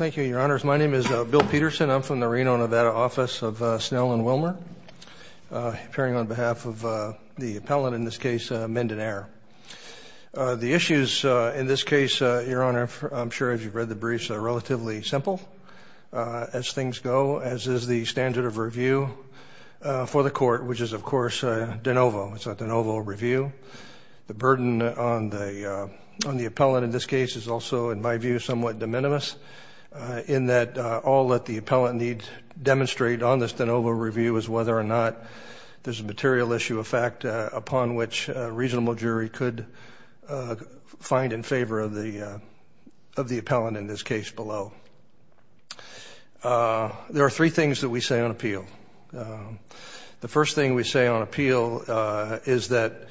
Thank you, Your Honors. My name is Bill Peterson. I'm from the Reno, Nevada office of Snell & Wilmer appearing on behalf of the appellant, in this case, Minden Air. The issues in this case, Your Honor, I'm sure as you've read the briefs, are relatively simple as things go, as is the standard of review for the court, which is of course a de novo. It's a de novo review. The burden on the appellant in this case is also, in my view, somewhat de minimis in that all that the appellant needs demonstrate on this de novo review is whether or not there's a material issue of fact upon which a reasonable jury could find in favor of the appellant, in this case, below. The first thing we say on appeal is that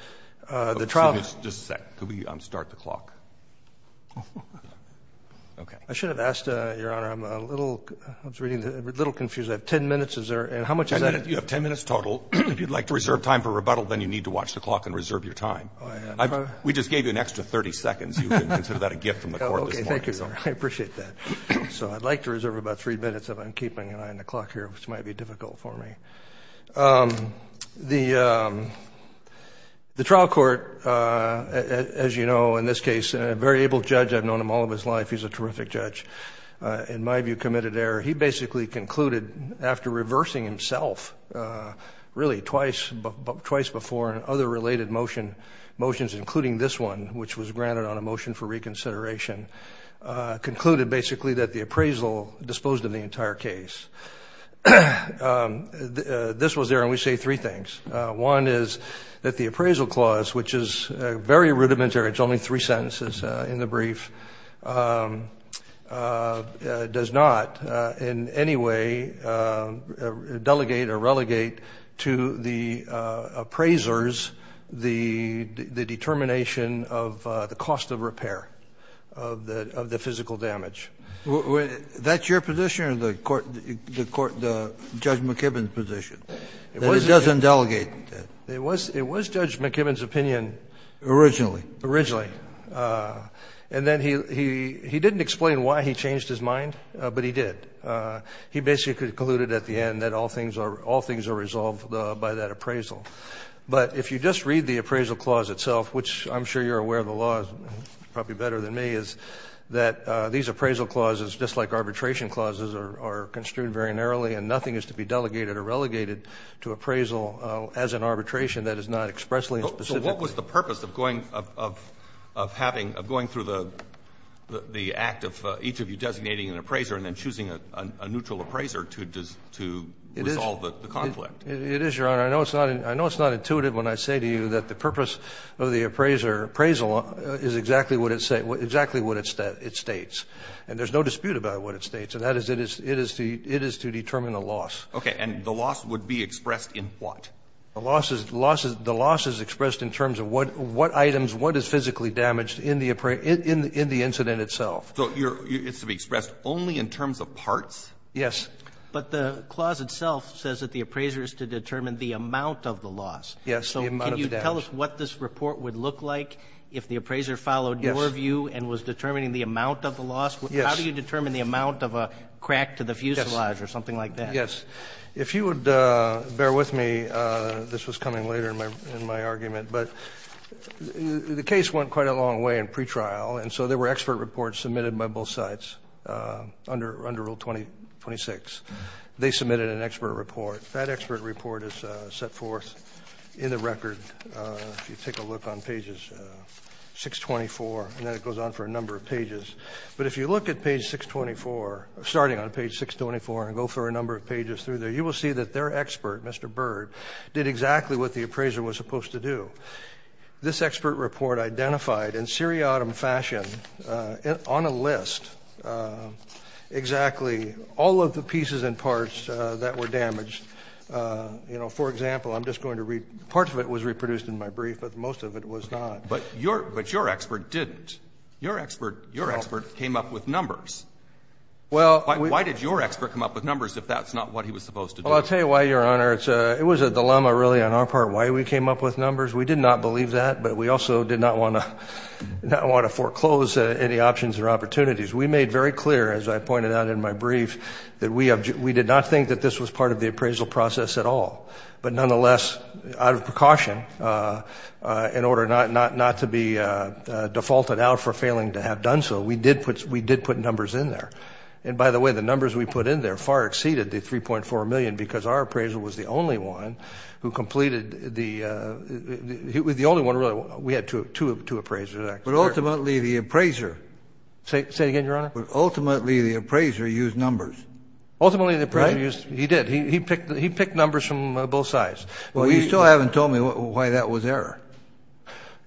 the trial... Just a sec. Could we start the clock? Okay. I should have asked, Your Honor, I'm a little, I was reading, a little confused. I have 10 minutes. Is there, and how much is that? You have 10 minutes total. If you'd like to reserve time for rebuttal, then you need to watch the clock and reserve your time. We just gave you an extra 30 seconds. You can consider that a gift from the court this morning. Okay, thank you. I appreciate that. So I'd like to reserve about three minutes if I'm keeping an eye on the clock here, which might be difficult. For me, the, the trial court, as you know, in this case, a very able judge, I've known him all of his life. He's a terrific judge. In my view, committed error. He basically concluded after reversing himself, really twice, twice before and other related motion, motions, including this one, which was granted on a motion for reconsideration, concluded basically that the appraisal disposed of the entire case. This was there, and we say three things. One is that the appraisal clause, which is very rudimentary, it's only three sentences in the brief, does not in any way delegate or relegate to the appraisers the determination of the cost of repair of the, of the physical damage. Well, that's your position or the court, the court, the judge McKibbin's position. It wasn't doesn't delegate. It was, it was judge McKibbin's opinion originally, originally. And then he, he, he didn't explain why he changed his mind, but he did. He basically concluded at the end that all things are, all things are resolved by that appraisal. But if you just read the appraisal clause itself, which I'm sure you're aware of the laws, probably better than me, is that these appraisal clauses, just like arbitration clauses, are construed very narrowly, and nothing is to be delegated or relegated to appraisal as an arbitration that is not expressly and specifically. So what was the purpose of going, of, of having, of going through the, the act of each of you designating an appraiser, and then choosing a neutral appraiser to, to resolve the conflict? It is, Your Honor. I know it's not, I know it's not intuitive when I say to you that the purpose of the appraiser, appraisal, is exactly what it say, exactly what it states. And there's no dispute about what it states. And that is, it is, it is to, it is to determine a loss. Okay. And the loss would be expressed in what? The loss is, the loss is, the loss is expressed in terms of what, what items, what is physically damaged in the appraiser, in, in, in the incident itself. So you're, it's to be expressed only in terms of parts? Yes. But the clause itself says that the appraiser is to determine the amount of the loss. Yes, the amount of the damage. Tell us what this report would look like if the appraiser followed your view and was determining the amount of the loss. Yes. How do you determine the amount of a crack to the fuselage or something like that? Yes. If you would bear with me, this was coming later in my, in my argument. But the case went quite a long way in pretrial, and so there were expert reports submitted by both sides. Under, under Rule 2026, they submitted an expert report. That expert report is set forth in the record. If you take a look on pages 624, and then it goes on for a number of pages. But if you look at page 624, starting on page 624 and go for a number of pages through there, you will see that their expert, Mr. Bird, did exactly what the appraiser was supposed to do. This expert report identified in seriatim fashion, on a list, exactly all of the pieces and parts that were damaged. You know, for example, I'm just going to read, part of it was reproduced in my brief, but most of it was not. But your, but your expert didn't. Your expert, your expert came up with numbers. Well. Why did your expert come up with numbers if that's not what he was supposed to do? Well, I'll tell you why, Your Honor. It's a, it was a dilemma, really, on our part, why we came up with numbers. We did not believe that, but we also did not want to, not want to foreclose any options or opportunities. We made very clear, as I pointed out in my brief, that we have, we did not think that this was part of the appraisal process at all. But nonetheless, out of precaution, in order not, not, not to be defaulted out for failing to have done so, we did put, we did put numbers in there. And by the way, the numbers we put in there far exceeded the 3.4 million because our appraiser was the only one who completed the, he was the only one really, we had two, two appraisers actually. But ultimately, the appraiser. Say, say it again, Your Honor. But ultimately, the appraiser used numbers. Ultimately, the appraiser used, he did. He, he picked, he picked numbers from both sides. Well, you still haven't told me why that was error.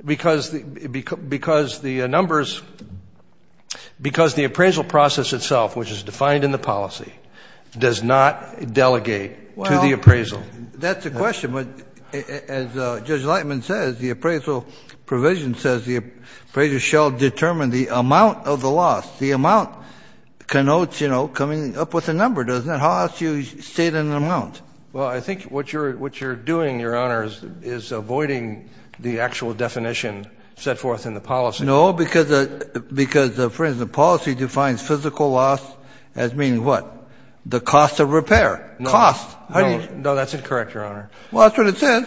Because, because the numbers, because the appraisal process itself, which is defined in the policy, does not delegate to the appraisal. That's a question, but as Judge Lightman says, the appraisal provision says the appraiser shall determine the amount of the loss. The amount connotes, you know, coming up with a number, doesn't it? How else do you state an amount? Well, I think what you're, what you're doing, Your Honor, is, is avoiding the actual definition set forth in the policy. No, because, because, for instance, the policy defines physical loss as meaning what? The cost of repair. Cost. No, that's incorrect, Your Honor. Well, that's what it says.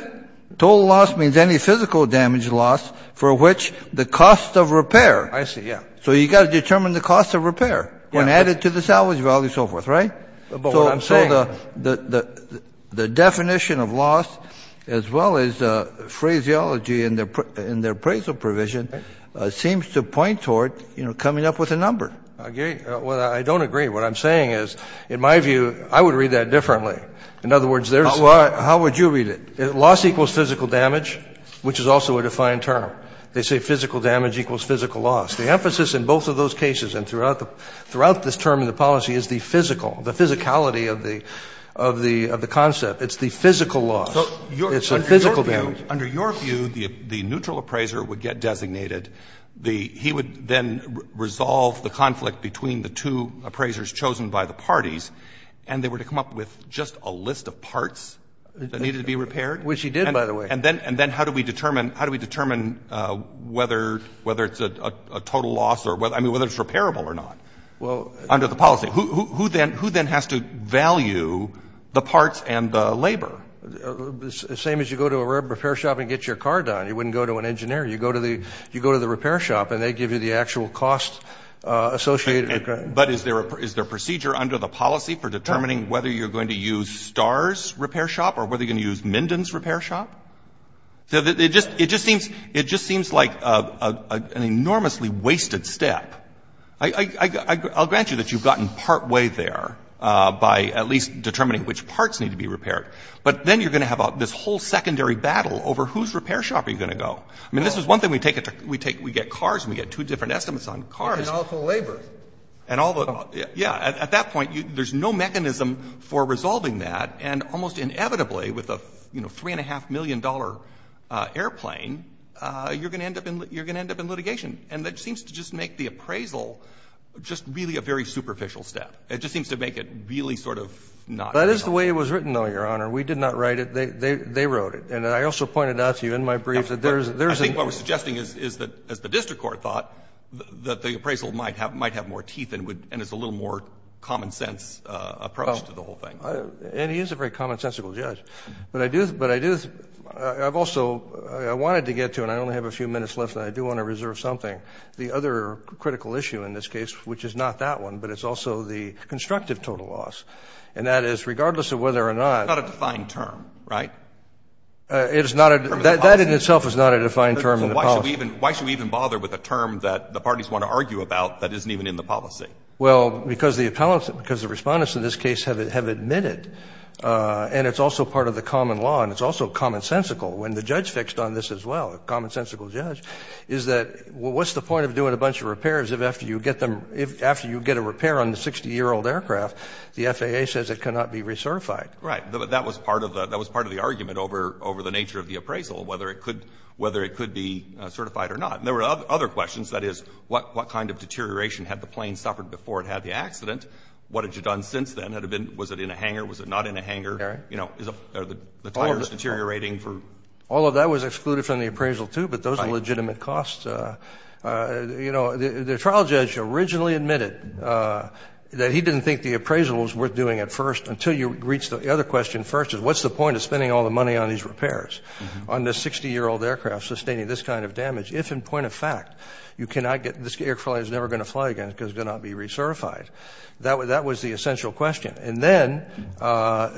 Total loss means any physical damage loss for which the cost of repair. I see, yeah. So you've got to determine the cost of repair when added to the salvage value, so forth, right? But what I'm saying. So, so the, the, the definition of loss as well as the phraseology in their, in their appraisal provision seems to point toward, you know, coming up with a number. I agree. Well, I don't agree. What I'm saying is, in my view, I would read that differently. In other words, there's. Well, how would you read it? Loss equals physical damage, which is also a defined term. They say physical damage equals physical loss. The emphasis in both of those cases and throughout the, throughout this term in the policy is the physical, the physicality of the, of the, of the concept. It's the physical loss. It's a physical damage. Under your view, the neutral appraiser would get designated. The, he would then resolve the conflict between the two appraisers chosen by the parties, and they were to come up with just a list of parts that needed to be repaired. Which he did, by the way. And then, and then how do we determine, how do we determine whether, whether it's a total loss or whether, I mean, whether it's repairable or not? Well. Under the policy. Who, who, who then, who then has to value the parts and the labor? Same as you go to a repair shop and get your car done. You wouldn't go to an engineer. You go to the, you go to the repair shop and they give you the actual cost associated with that. But is there a, is there procedure under the policy for determining whether you're going to use Star's repair shop or whether you're going to use Minden's repair shop? It just, it just seems, it just seems like a, a, an enormously wasted step. I, I, I, I'll grant you that you've gotten partway there by at least determining which parts need to be repaired. But then you're going to have this whole secondary battle over whose repair shop are you going to go. I mean, this is one thing we take it to, we take, we get cars and we get two different estimates on cars. And all the labor. And all the, yeah, at, at that point you, there's no mechanism for resolving that and almost inevitably with a, you know, $3.5 million airplane, you're going to end up in, you're going to end up in litigation. And that seems to just make the appraisal just really a very superficial step. It just seems to make it really sort of not. That is the way it was written, though, Your Honor. We did not write it. They, they, they wrote it. And I also pointed out to you in my brief that there's, there's a. I think what we're suggesting is, is that as the district court thought that the appraisal might have, might have more teeth and would, and is a little more common sense approach to the whole thing. I, and he is a very common sensical judge. But I do, but I do, I've also, I wanted to get to, and I only have a few minutes left and I do want to reserve something. The other critical issue in this case, which is not that one, but it's also the constructive total loss. And that is, regardless of whether or not. It's not a defined term, right? It is not a, that, that in itself is not a defined term in the policy. Why should we even bother with a term that the parties want to argue about that isn't even in the policy? Well, because the appellants, because the respondents in this case have, have admitted, and it's also part of the common law, and it's also common sensical. When the judge fixed on this as well, a common sensical judge, is that, well, what's the point of doing a bunch of repairs if after you get them, if after you get a repair on the 60 year old aircraft, the FAA says it cannot be recertified. Right, but that was part of the, that was part of the argument over, over the nature of the appraisal, whether it could, whether it could be certified or not. And there were other questions, that is, what, what kind of deterioration had the plane suffered before it had the accident? What had you done since then? Had it been, was it in a hanger? Was it not in a hanger? You know, is it, are the tires deteriorating for? All of that was excluded from the appraisal too, but those are legitimate costs. You know, the, the trial judge originally admitted that he didn't think the appraisal was worth doing at first, until you reach the other question first, is what's the point of spending all the money on these repairs? On this 60 year old aircraft, sustaining this kind of damage, if in point of fact, you cannot get, this airplane is never going to fly again, because it cannot be recertified. That, that was the essential question. And then,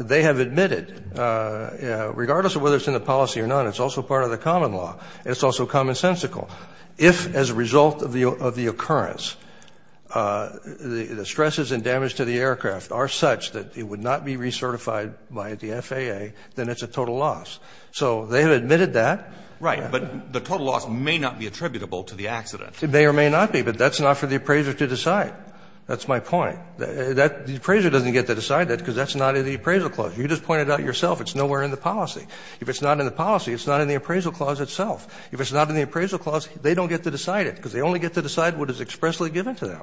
they have admitted, regardless of whether it's in the policy or not, it's also part of the common law. It's also commonsensical. If, as a result of the, of the occurrence, the, the stresses and damage to the aircraft are such that it would not be recertified by the FAA, then it's a total loss. So, they have admitted that. Roberts. Right, but the total loss may not be attributable to the accident. It may or may not be, but that's not for the appraiser to decide. That's my point. That, the appraiser doesn't get to decide that, because that's not in the appraisal clause. You just pointed out yourself, it's nowhere in the policy. If it's not in the policy, it's not in the appraisal clause itself. If it's not in the appraisal clause, they don't get to decide it, because they only get to decide what is expressly given to them.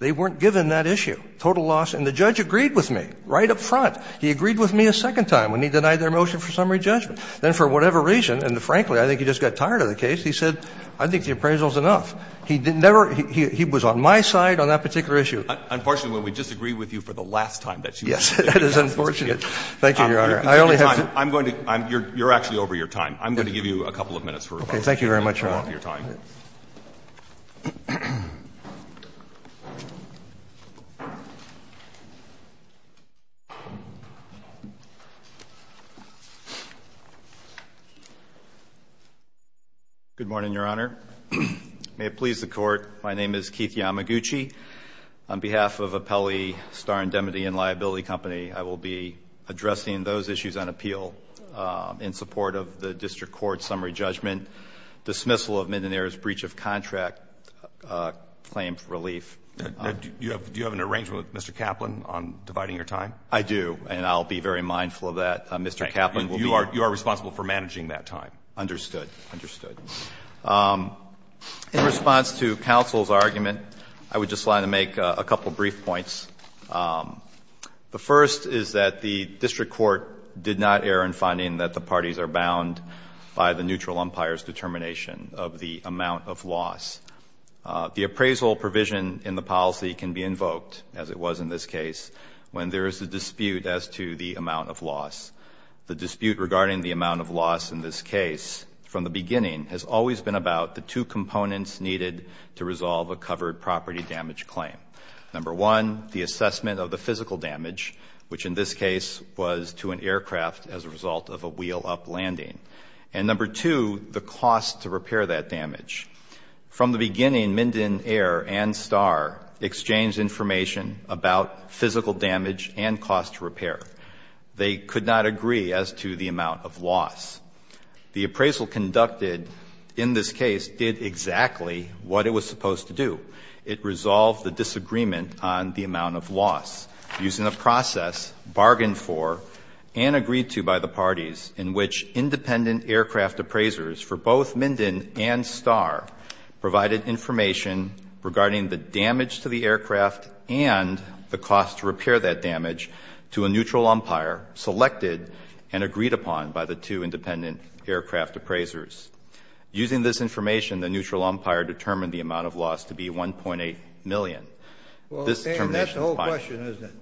They weren't given that issue, total loss, and the judge agreed with me, right up front. He agreed with me a second time when he denied their motion for summary judgment. Then, for whatever reason, and frankly, I think he just got tired of the case, he said, I think the appraisal is enough. He didn't ever, he, he was on my side on that particular issue. Unfortunately, when we disagreed with you for the last time, that's when you said it. Yes, that is unfortunate. Thank you, Your Honor. I only have to. I'm going to, I'm, you're, you're actually over your time. I'm going to give you a couple of minutes for rebuttal. Okay, thank you very much, Your Honor. You're out of your time. Good morning, Your Honor. May it please the court. My name is Keith Yamaguchi. On behalf of Apelli Star Indemnity and Liability Company, I will be addressing those issues on appeal in support of the district court summary judgment. Dismissal of Mendenare's breach of contract claim for relief. Do you have an arrangement with Mr. Kaplan on dividing your time? I do, and I'll be very mindful of that. Mr. Kaplan will be. You are responsible for managing that time. Understood, understood. In response to counsel's argument, I would just like to make a couple brief points. The first is that the district court did not err in finding that the parties are bound by the neutral umpire's determination of the amount of loss. The appraisal provision in the policy can be invoked, as it was in this case, when there is a dispute as to the amount of loss. The dispute regarding the amount of loss in this case, from the beginning, has always been about the two components needed to resolve a covered property damage claim. Number one, the assessment of the physical damage, which in this case was to an aircraft as a result of a wheel up landing. And number two, the cost to repair that damage. From the beginning, Mendenare and Starr exchanged information about physical damage and cost to repair. They could not agree as to the amount of loss. The appraisal conducted in this case did exactly what it was supposed to do. It resolved the disagreement on the amount of loss using a process bargained for and agreed to by the parties in which independent aircraft appraisers for both Menden and Starr provided information regarding the damage to the aircraft and the cost to repair that damage to a neutral umpire selected and agreed upon by the two independent aircraft appraisers. Using this information, the neutral umpire determined the amount of loss to be 1.8 million. This determination- And that's the whole question, isn't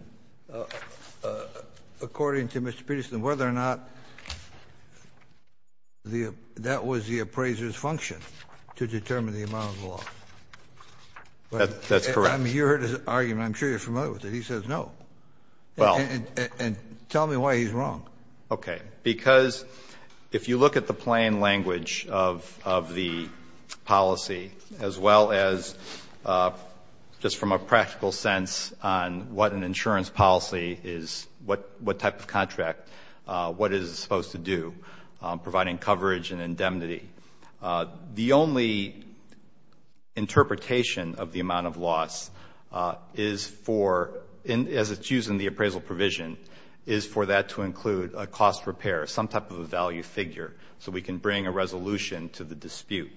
it, according to Mr. Peterson, whether or not that was the appraiser's function to determine the amount of loss. That's correct. You heard his argument. I'm sure you're familiar with it. He says no, and tell me why he's wrong. Okay, because if you look at the plain language of the policy, as well as just from a practical sense on what an insurance policy is, what type of contract, what is it supposed to do, providing coverage and indemnity. The only interpretation of the amount of loss is for, as it's used in the appraisal provision, is for that to include a cost repair, some type of a value figure, so we can bring a resolution to the dispute.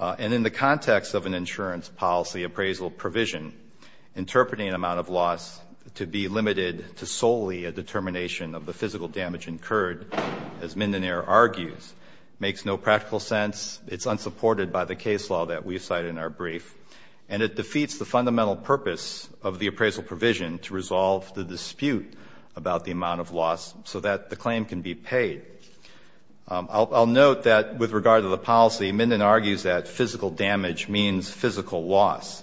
And in the context of an insurance policy appraisal provision, interpreting an amount of loss to be limited to solely a determination of the physical damage incurred, as Mindenair argues, makes no practical sense. It's unsupported by the case law that we've cited in our brief. And it defeats the fundamental purpose of the appraisal provision to resolve the dispute about the amount of loss, so that the claim can be paid. I'll note that with regard to the policy, Minden argues that physical damage means physical loss.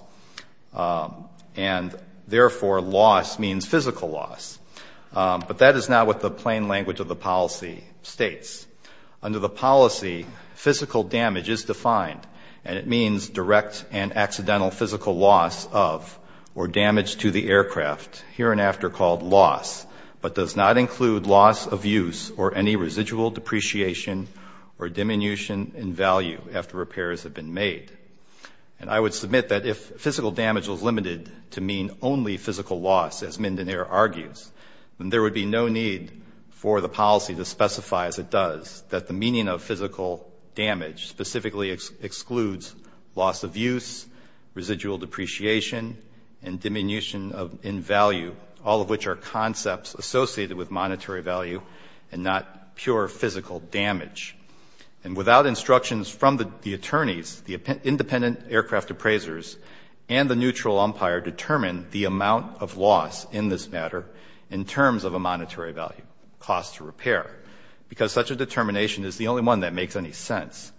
And therefore, loss means physical loss. But that is not what the plain language of the policy states. Under the policy, physical damage is defined, and it means direct and accidental physical loss of or damage to the aircraft, here and after called loss. But does not include loss of use or any residual depreciation or diminution in value after repairs have been made. And I would submit that if physical damage was limited to mean only physical loss, as Mindenair argues, then there would be no need for the policy to specify as it does that the meaning of physical damage specifically excludes loss of use, residual depreciation, and diminution in value, all of which are concepts associated with monetary value and not pure physical damage. And without instructions from the attorneys, the independent aircraft appraisers and the neutral umpire determine the amount of loss in this matter in terms of a monetary value, cost to repair. Because such a determination is the only one that makes any sense.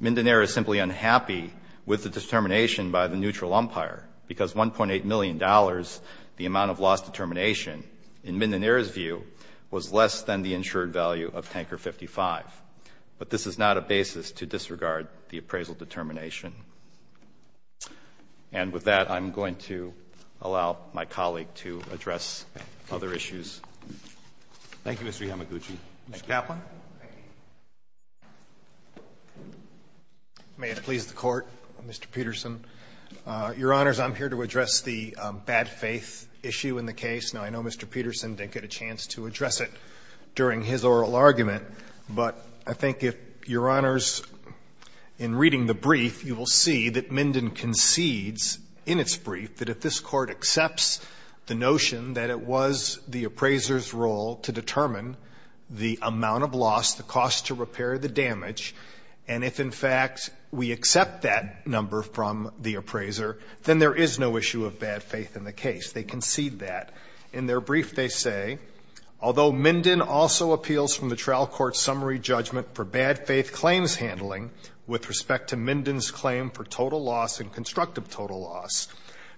Mindenair is simply unhappy with the determination by the neutral umpire. Because $1.8 million, the amount of loss determination, in Mindenair's view, was less than the insured value of tanker 55. But this is not a basis to disregard the appraisal determination. And with that, I'm going to allow my colleague to address other issues. Thank you, Mr. Yamaguchi. Mr. Kaplan. Thank you. May it please the Court, Mr. Peterson. Your Honors, I'm here to address the bad faith issue in the case. Now, I know Mr. Peterson didn't get a chance to address it during his oral argument. But I think if Your Honors, in reading the brief, you will see that Minden concedes in its brief that if this Court accepts the notion that it was the appraiser's role to determine the amount of loss, the cost to repair, the damage. And if, in fact, we accept that number from the appraiser, then there is no issue of bad faith in the case. They concede that. In their brief, they say, although Minden also appeals from the trial court summary judgment for bad faith claims handling with respect to Minden's claim for total loss and constructive total loss,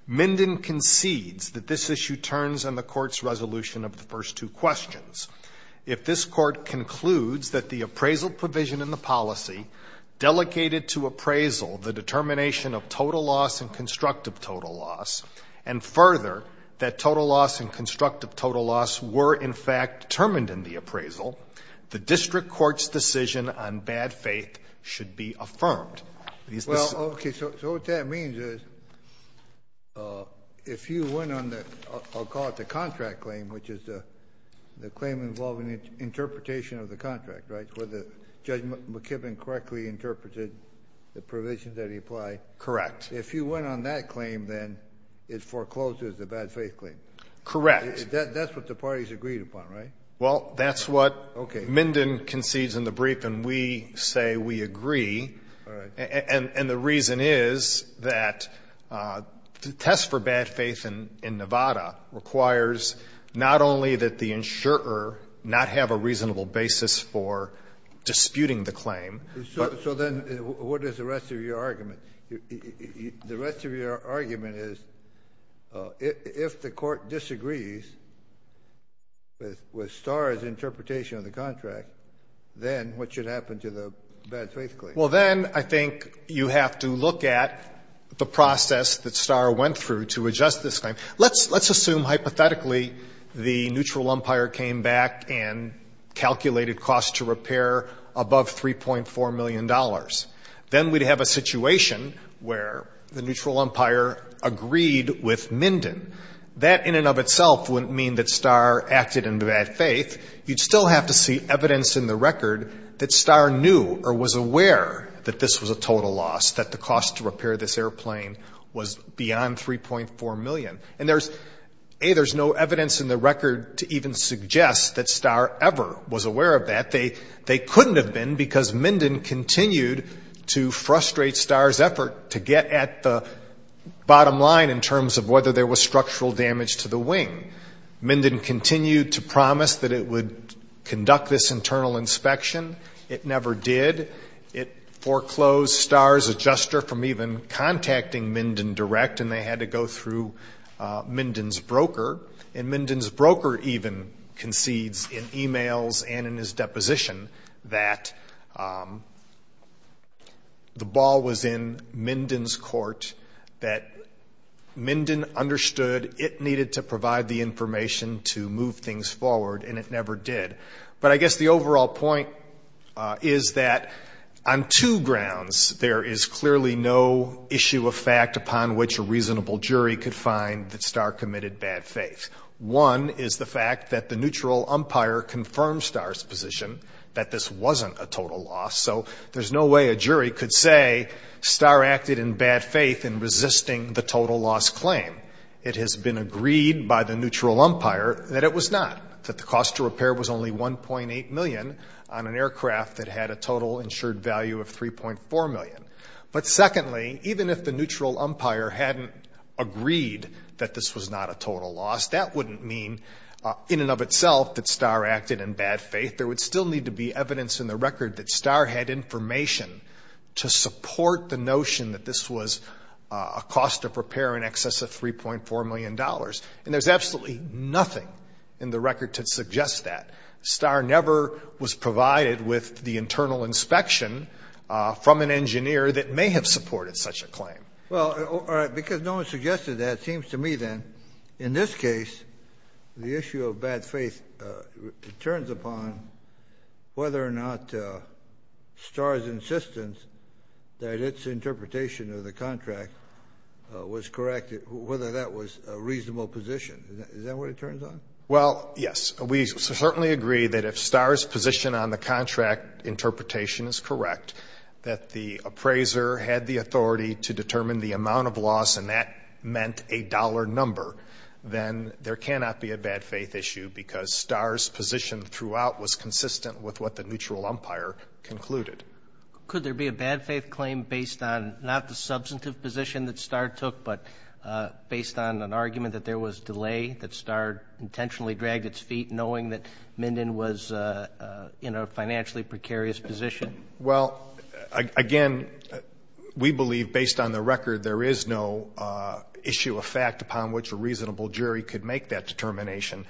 Minden concedes that this issue turns on the court's resolution of the first two questions. If this court concludes that the appraisal provision in the policy delegated to appraisal the determination of total loss and constructive total loss. And further, that total loss and constructive total loss were, in fact, determined in the appraisal. The district court's decision on bad faith should be affirmed. Well, okay, so what that means is, if you went on the, I'll call it the contract claim, which is the claim involving interpretation of the contract, right? Where Judge McKibben correctly interpreted the provisions that he applied. Correct. If you went on that claim, then it forecloses the bad faith claim. Correct. That's what the parties agreed upon, right? Well, that's what Minden concedes in the brief, and we say we agree. And the reason is that the test for bad faith in Nevada requires not only that the insurer not have a reasonable basis for disputing the claim. So then, what is the rest of your argument? The rest of your argument is, if the court disagrees with Starr's interpretation of the contract, then what should happen to the bad faith claim? Well, then I think you have to look at the process that Starr went through to adjust this claim. Let's assume, hypothetically, the neutral umpire came back and calculated cost to repair above $3.4 million. Then we'd have a situation where the neutral umpire agreed with Minden. That in and of itself wouldn't mean that Starr acted in bad faith. You'd still have to see evidence in the record that Starr knew or was aware that this was a total loss, that the cost to repair this airplane was beyond $3.4 million. And there's, A, there's no evidence in the record to even suggest that Starr ever was aware of that. They couldn't have been because Minden continued to frustrate Starr's effort to get at the bottom line in terms of whether there was structural damage to the wing. Minden continued to promise that it would conduct this internal inspection. It never did. It foreclosed Starr's adjuster from even contacting Minden direct and they had to go through Minden's broker. And Minden's broker even concedes in emails and in his deposition that the ball was in Minden's court. That Minden understood it needed to provide the information to move things forward and it never did. But I guess the overall point is that on two grounds, there is clearly no issue of fact upon which a reasonable jury could find that Starr committed bad faith. One is the fact that the neutral umpire confirmed Starr's position that this wasn't a total loss. So there's no way a jury could say Starr acted in bad faith in resisting the total loss claim. It has been agreed by the neutral umpire that it was not. That the cost to repair was only 1.8 million on an aircraft that had a total insured value of 3.4 million. But secondly, even if the neutral umpire hadn't agreed that this was not a total loss, that wouldn't mean in and of itself that Starr acted in bad faith. There would still need to be evidence in the record that Starr had information to support the notion that this was a cost of repair in excess of 3.4 million dollars. And there's absolutely nothing in the record to suggest that. Starr never was provided with the internal inspection from an engineer that may have supported such a claim. Well, because no one suggested that, it seems to me then, in this case, the issue of bad faith turns upon whether or not Starr's insistence that its interpretation of the contract was correct, whether that was a reasonable position. Is that what it turns on? Well, yes. We certainly agree that if Starr's position on the contract interpretation is correct, that the appraiser had the authority to determine the amount of loss and that meant a dollar number, then there cannot be a bad faith issue because Starr's position throughout was consistent with what the neutral umpire concluded. Could there be a bad faith claim based on not the substantive position that Starr took, but based on an argument that there was delay, that Starr intentionally dragged its feet knowing that Minden was in a financially precarious position? Well, again, we believe based on the record, there is no issue of fact upon which a reasonable jury could make that determination.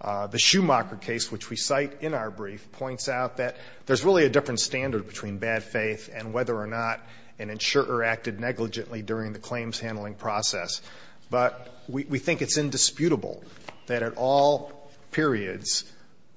The Schumacher case, which we cite in our brief, points out that there's really a different standard between bad faith and whether or not an insurer acted negligently during the claims handling process. But we think it's indisputable that at all periods,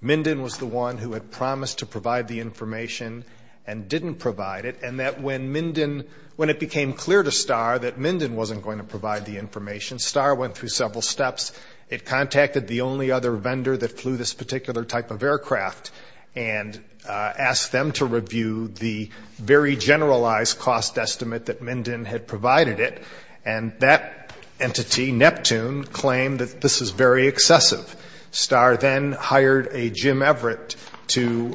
Minden was the one who had promised to provide the information and didn't provide it, and that when Minden, when it became clear to Starr that Minden wasn't going to provide the information, Starr went through several steps. It contacted the only other vendor that flew this particular type of aircraft and asked them to review the very generalized cost estimate that Minden had provided it. And that entity, Neptune, claimed that this is very excessive. Starr then hired a Jim Everett to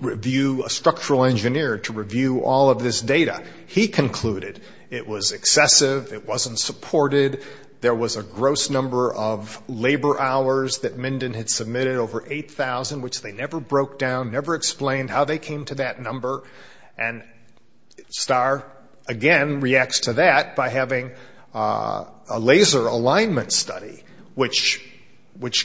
review, a structural engineer, to review all of this data. He concluded it was excessive, it wasn't supported. There was a gross number of labor hours that Minden had submitted, over 8,000, which they never broke down, never explained how they came to that number. And Starr, again, reacts to that by having a laser alignment study, which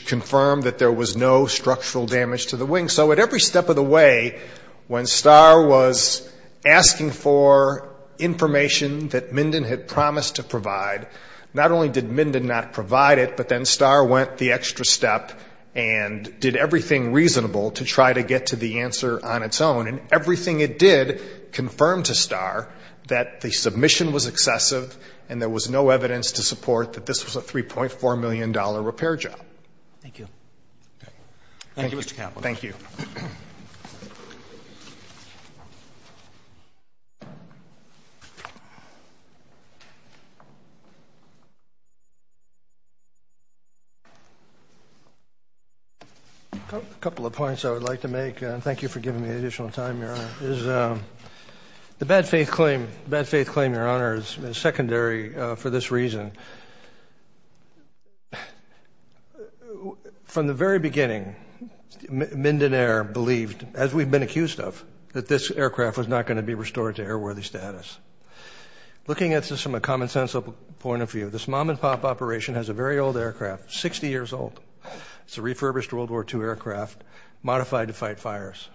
confirmed that there was no structural damage to the wing. So at every step of the way, when Starr was asking for information that Minden had promised to provide, not only did Minden not provide it, but then Starr went the extra step and did everything reasonable to try to get to the answer on its own. And everything it did confirmed to Starr that the submission was excessive and there was no evidence to support that this was a $3.4 million repair job. Thank you. Thank you, Mr. Kaplan. Thank you. A couple of points I would like to make, and thank you for giving me the additional time, Your Honor, is the bad faith claim, bad faith claim, Your Honor, is secondary for this reason. From the very beginning, Minden Air believed, as we've been accused of, that this aircraft was not going to be restored to airworthy status. Looking at this from a common sense point of view, this mom and pop operation has a very old aircraft, 60 years old. It's a refurbished World War II aircraft, modified to fight fires.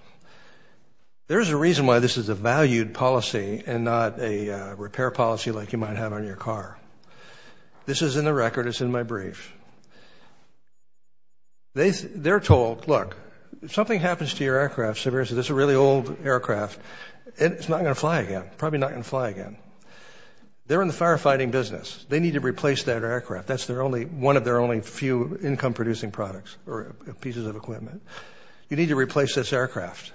There's a reason why this is a valued policy and not a repair policy like you might have on your car. This is in the record, it's in my brief. They're told, look, if something happens to your aircraft, this is a really old aircraft, it's not going to fly again, probably not going to fly again. They're in the firefighting business. They need to replace that aircraft. That's one of their only few income-producing products or pieces of equipment. You need to replace this aircraft.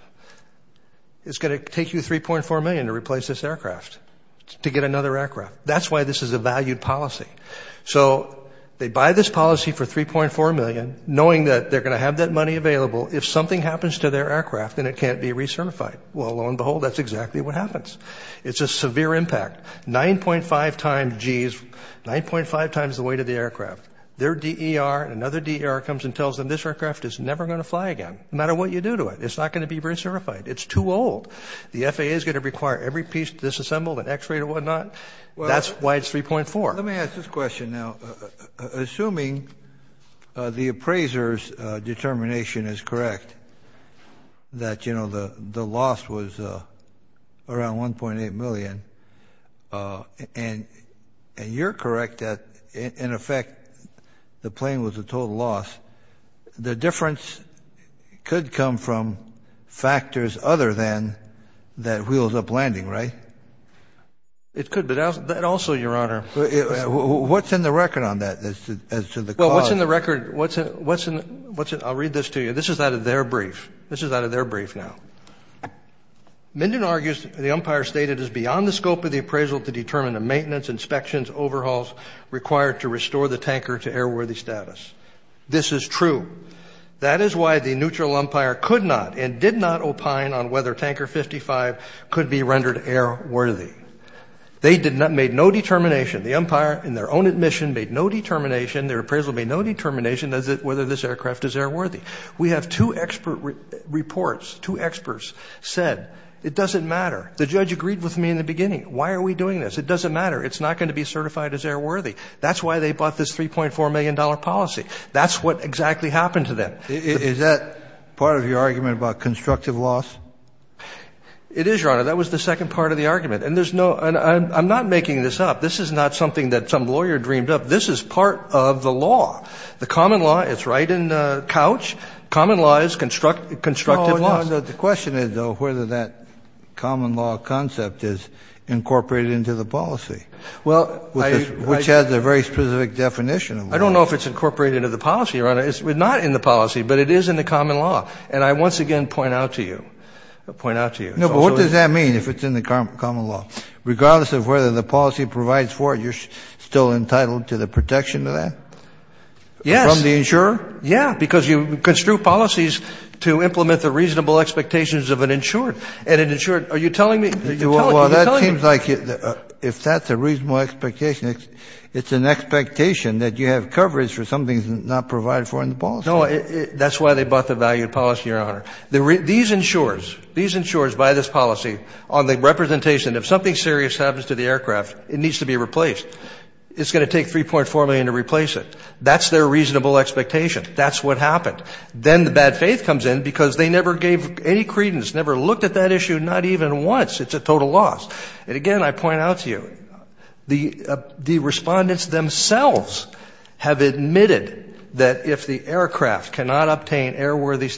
It's going to take you $3.4 million to replace this aircraft, to get another aircraft. That's why this is a valued policy. So they buy this policy for $3.4 million, knowing that they're going to have that money available. If something happens to their aircraft, then it can't be recertified. Well, lo and behold, that's exactly what happens. It's a severe impact. 9.5 times G's, 9.5 times the weight of the aircraft. Their DER and another DER comes and tells them this aircraft is never going to fly again, no matter what you do to it. It's not going to be recertified. It's too old. The FAA is going to require every piece disassembled and x-rayed and whatnot. That's why it's 3.4. Let me ask this question now. Assuming the appraiser's determination is correct, that the loss was around $1.8 million, and you're correct that, in effect, the plane was a total loss, the difference could come from factors other than that wheeled-up landing, right? It could, but that also, Your Honor... What's in the record on that, as to the cause? Well, what's in the record? I'll read this to you. This is out of their brief. This is out of their brief now. Minden argues the umpire stated it is beyond the scope of the appraisal to determine the maintenance, inspections, overhauls required to restore the tanker to airworthy status. This is true. That is why the neutral umpire could not and did not opine on whether Tanker 55 could be rendered airworthy. They made no determination. The umpire, in their own admission, made no determination. Their appraisal made no determination as to whether this aircraft is airworthy. We have two expert reports, two experts, said, it doesn't matter. The judge agreed with me in the beginning. Why are we doing this? It doesn't matter. It's not going to be certified as airworthy. That's why they bought this $3.4 million policy. That's what exactly happened to them. Is that part of your argument about constructive loss? It is, Your Honor. That was the second part of the argument. And there's no, and I'm not making this up. This is not something that some lawyer dreamed up. This is part of the law. The common law, it's right in the couch. Common law is constructive loss. The question is, though, whether that common law concept is incorporated into the policy, which has a very specific definition. I don't know if it's incorporated into the policy, Your Honor. It's not in the policy, but it is in the common law. And I once again point out to you, point out to you. No, but what does that mean, if it's in the common law? Regardless of whether the policy provides for it, you're still entitled to the protection of that? Yes. From the insurer? Yeah, because you construe policies to implement the reasonable expectations of an insured. And an insured, are you telling me, are you telling me, are you telling me? Well, that seems like, if that's a reasonable expectation, it's an expectation that you have coverage for something that's not provided for in the policy. No, that's why they bought the valued policy, Your Honor. These insurers, these insurers buy this policy on the basis that if anything serious happens to the aircraft, it needs to be replaced. It's going to take 3.4 million to replace it. That's their reasonable expectation. That's what happened. Then the bad faith comes in because they never gave any credence, never looked at that issue, not even once. It's a total loss. And again, I point out to you, the respondents themselves have admitted that if the aircraft cannot obtain airworthy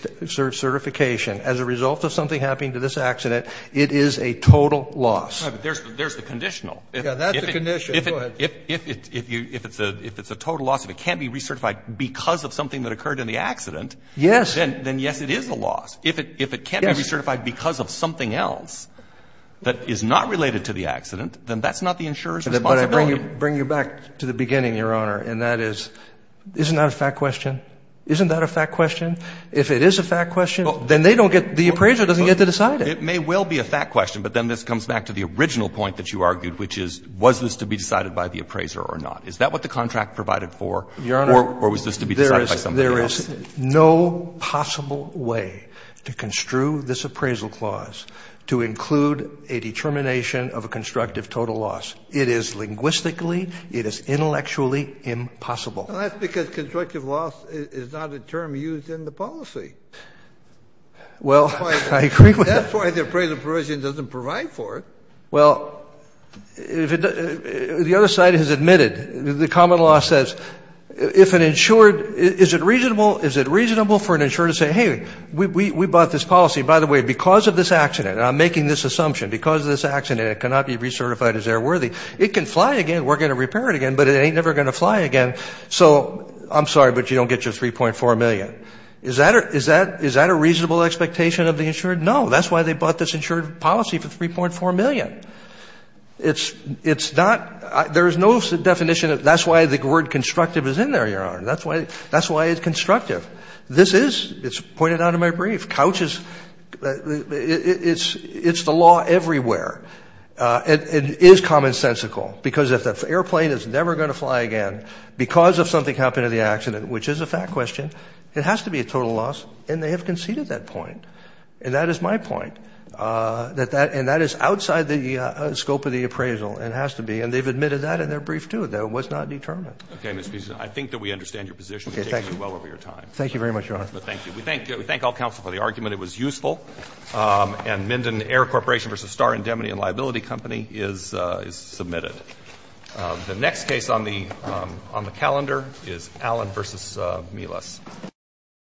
certification as a result of something happening to this accident, it is a total loss. There's the conditional. Yeah, that's the conditional. Go ahead. If it's a total loss, if it can't be recertified because of something that occurred in the accident, then yes, it is a loss. If it can't be recertified because of something else that is not related to the accident, then that's not the insurer's responsibility. But I bring you back to the beginning, Your Honor, and that is, isn't that a fact question? Isn't that a fact question? If it is a fact question, then they don't get the appraiser doesn't get to decide it. It may well be a fact question, but then this comes back to the original point that you argued, which is, was this to be decided by the appraiser or not? Is that what the contract provided for or was this to be decided by somebody else? Your Honor, there is no possible way to construe this appraisal clause to include a determination of a constructive total loss. It is linguistically, it is intellectually impossible. That's because constructive loss is not a term used in the policy. Well, I agree with that. That's why the appraiser provision doesn't provide for it. Well, the other side has admitted, the common law says, if an insured, is it reasonable for an insurer to say, hey, we bought this policy, by the way, because of this accident, I'm making this assumption, because of this accident, it cannot be recertified as airworthy. It can fly again, we're going to repair it again, but it ain't never going to fly again, so I'm sorry, but you don't get your $3.4 million. Is that a reasonable expectation of the insurer? No, that's why they bought this insured policy for $3.4 million. It's not, there is no definition of, that's why the word constructive is in there, Your Honor, that's why it's constructive. This is, it's pointed out in my brief, couch is, it's the law everywhere. It is commonsensical, because if the airplane is never going to fly again, because of something happened to the accident, which is a fact question, it has to be a total loss, and they have conceded that point. And that is my point, that that, and that is outside the scope of the appraisal, and has to be, and they've admitted that in their brief, too, that it was not determinate. Okay, Mr. Beeson, I think that we understand your position. It takes me well over your time. Thank you very much, Your Honor. Thank you. We thank all counsel for the argument. It was useful. And Minden Air Corporation v. Star Indemnity and Liability Company is submitted. The next case on the calendar is Allen v. Mielis.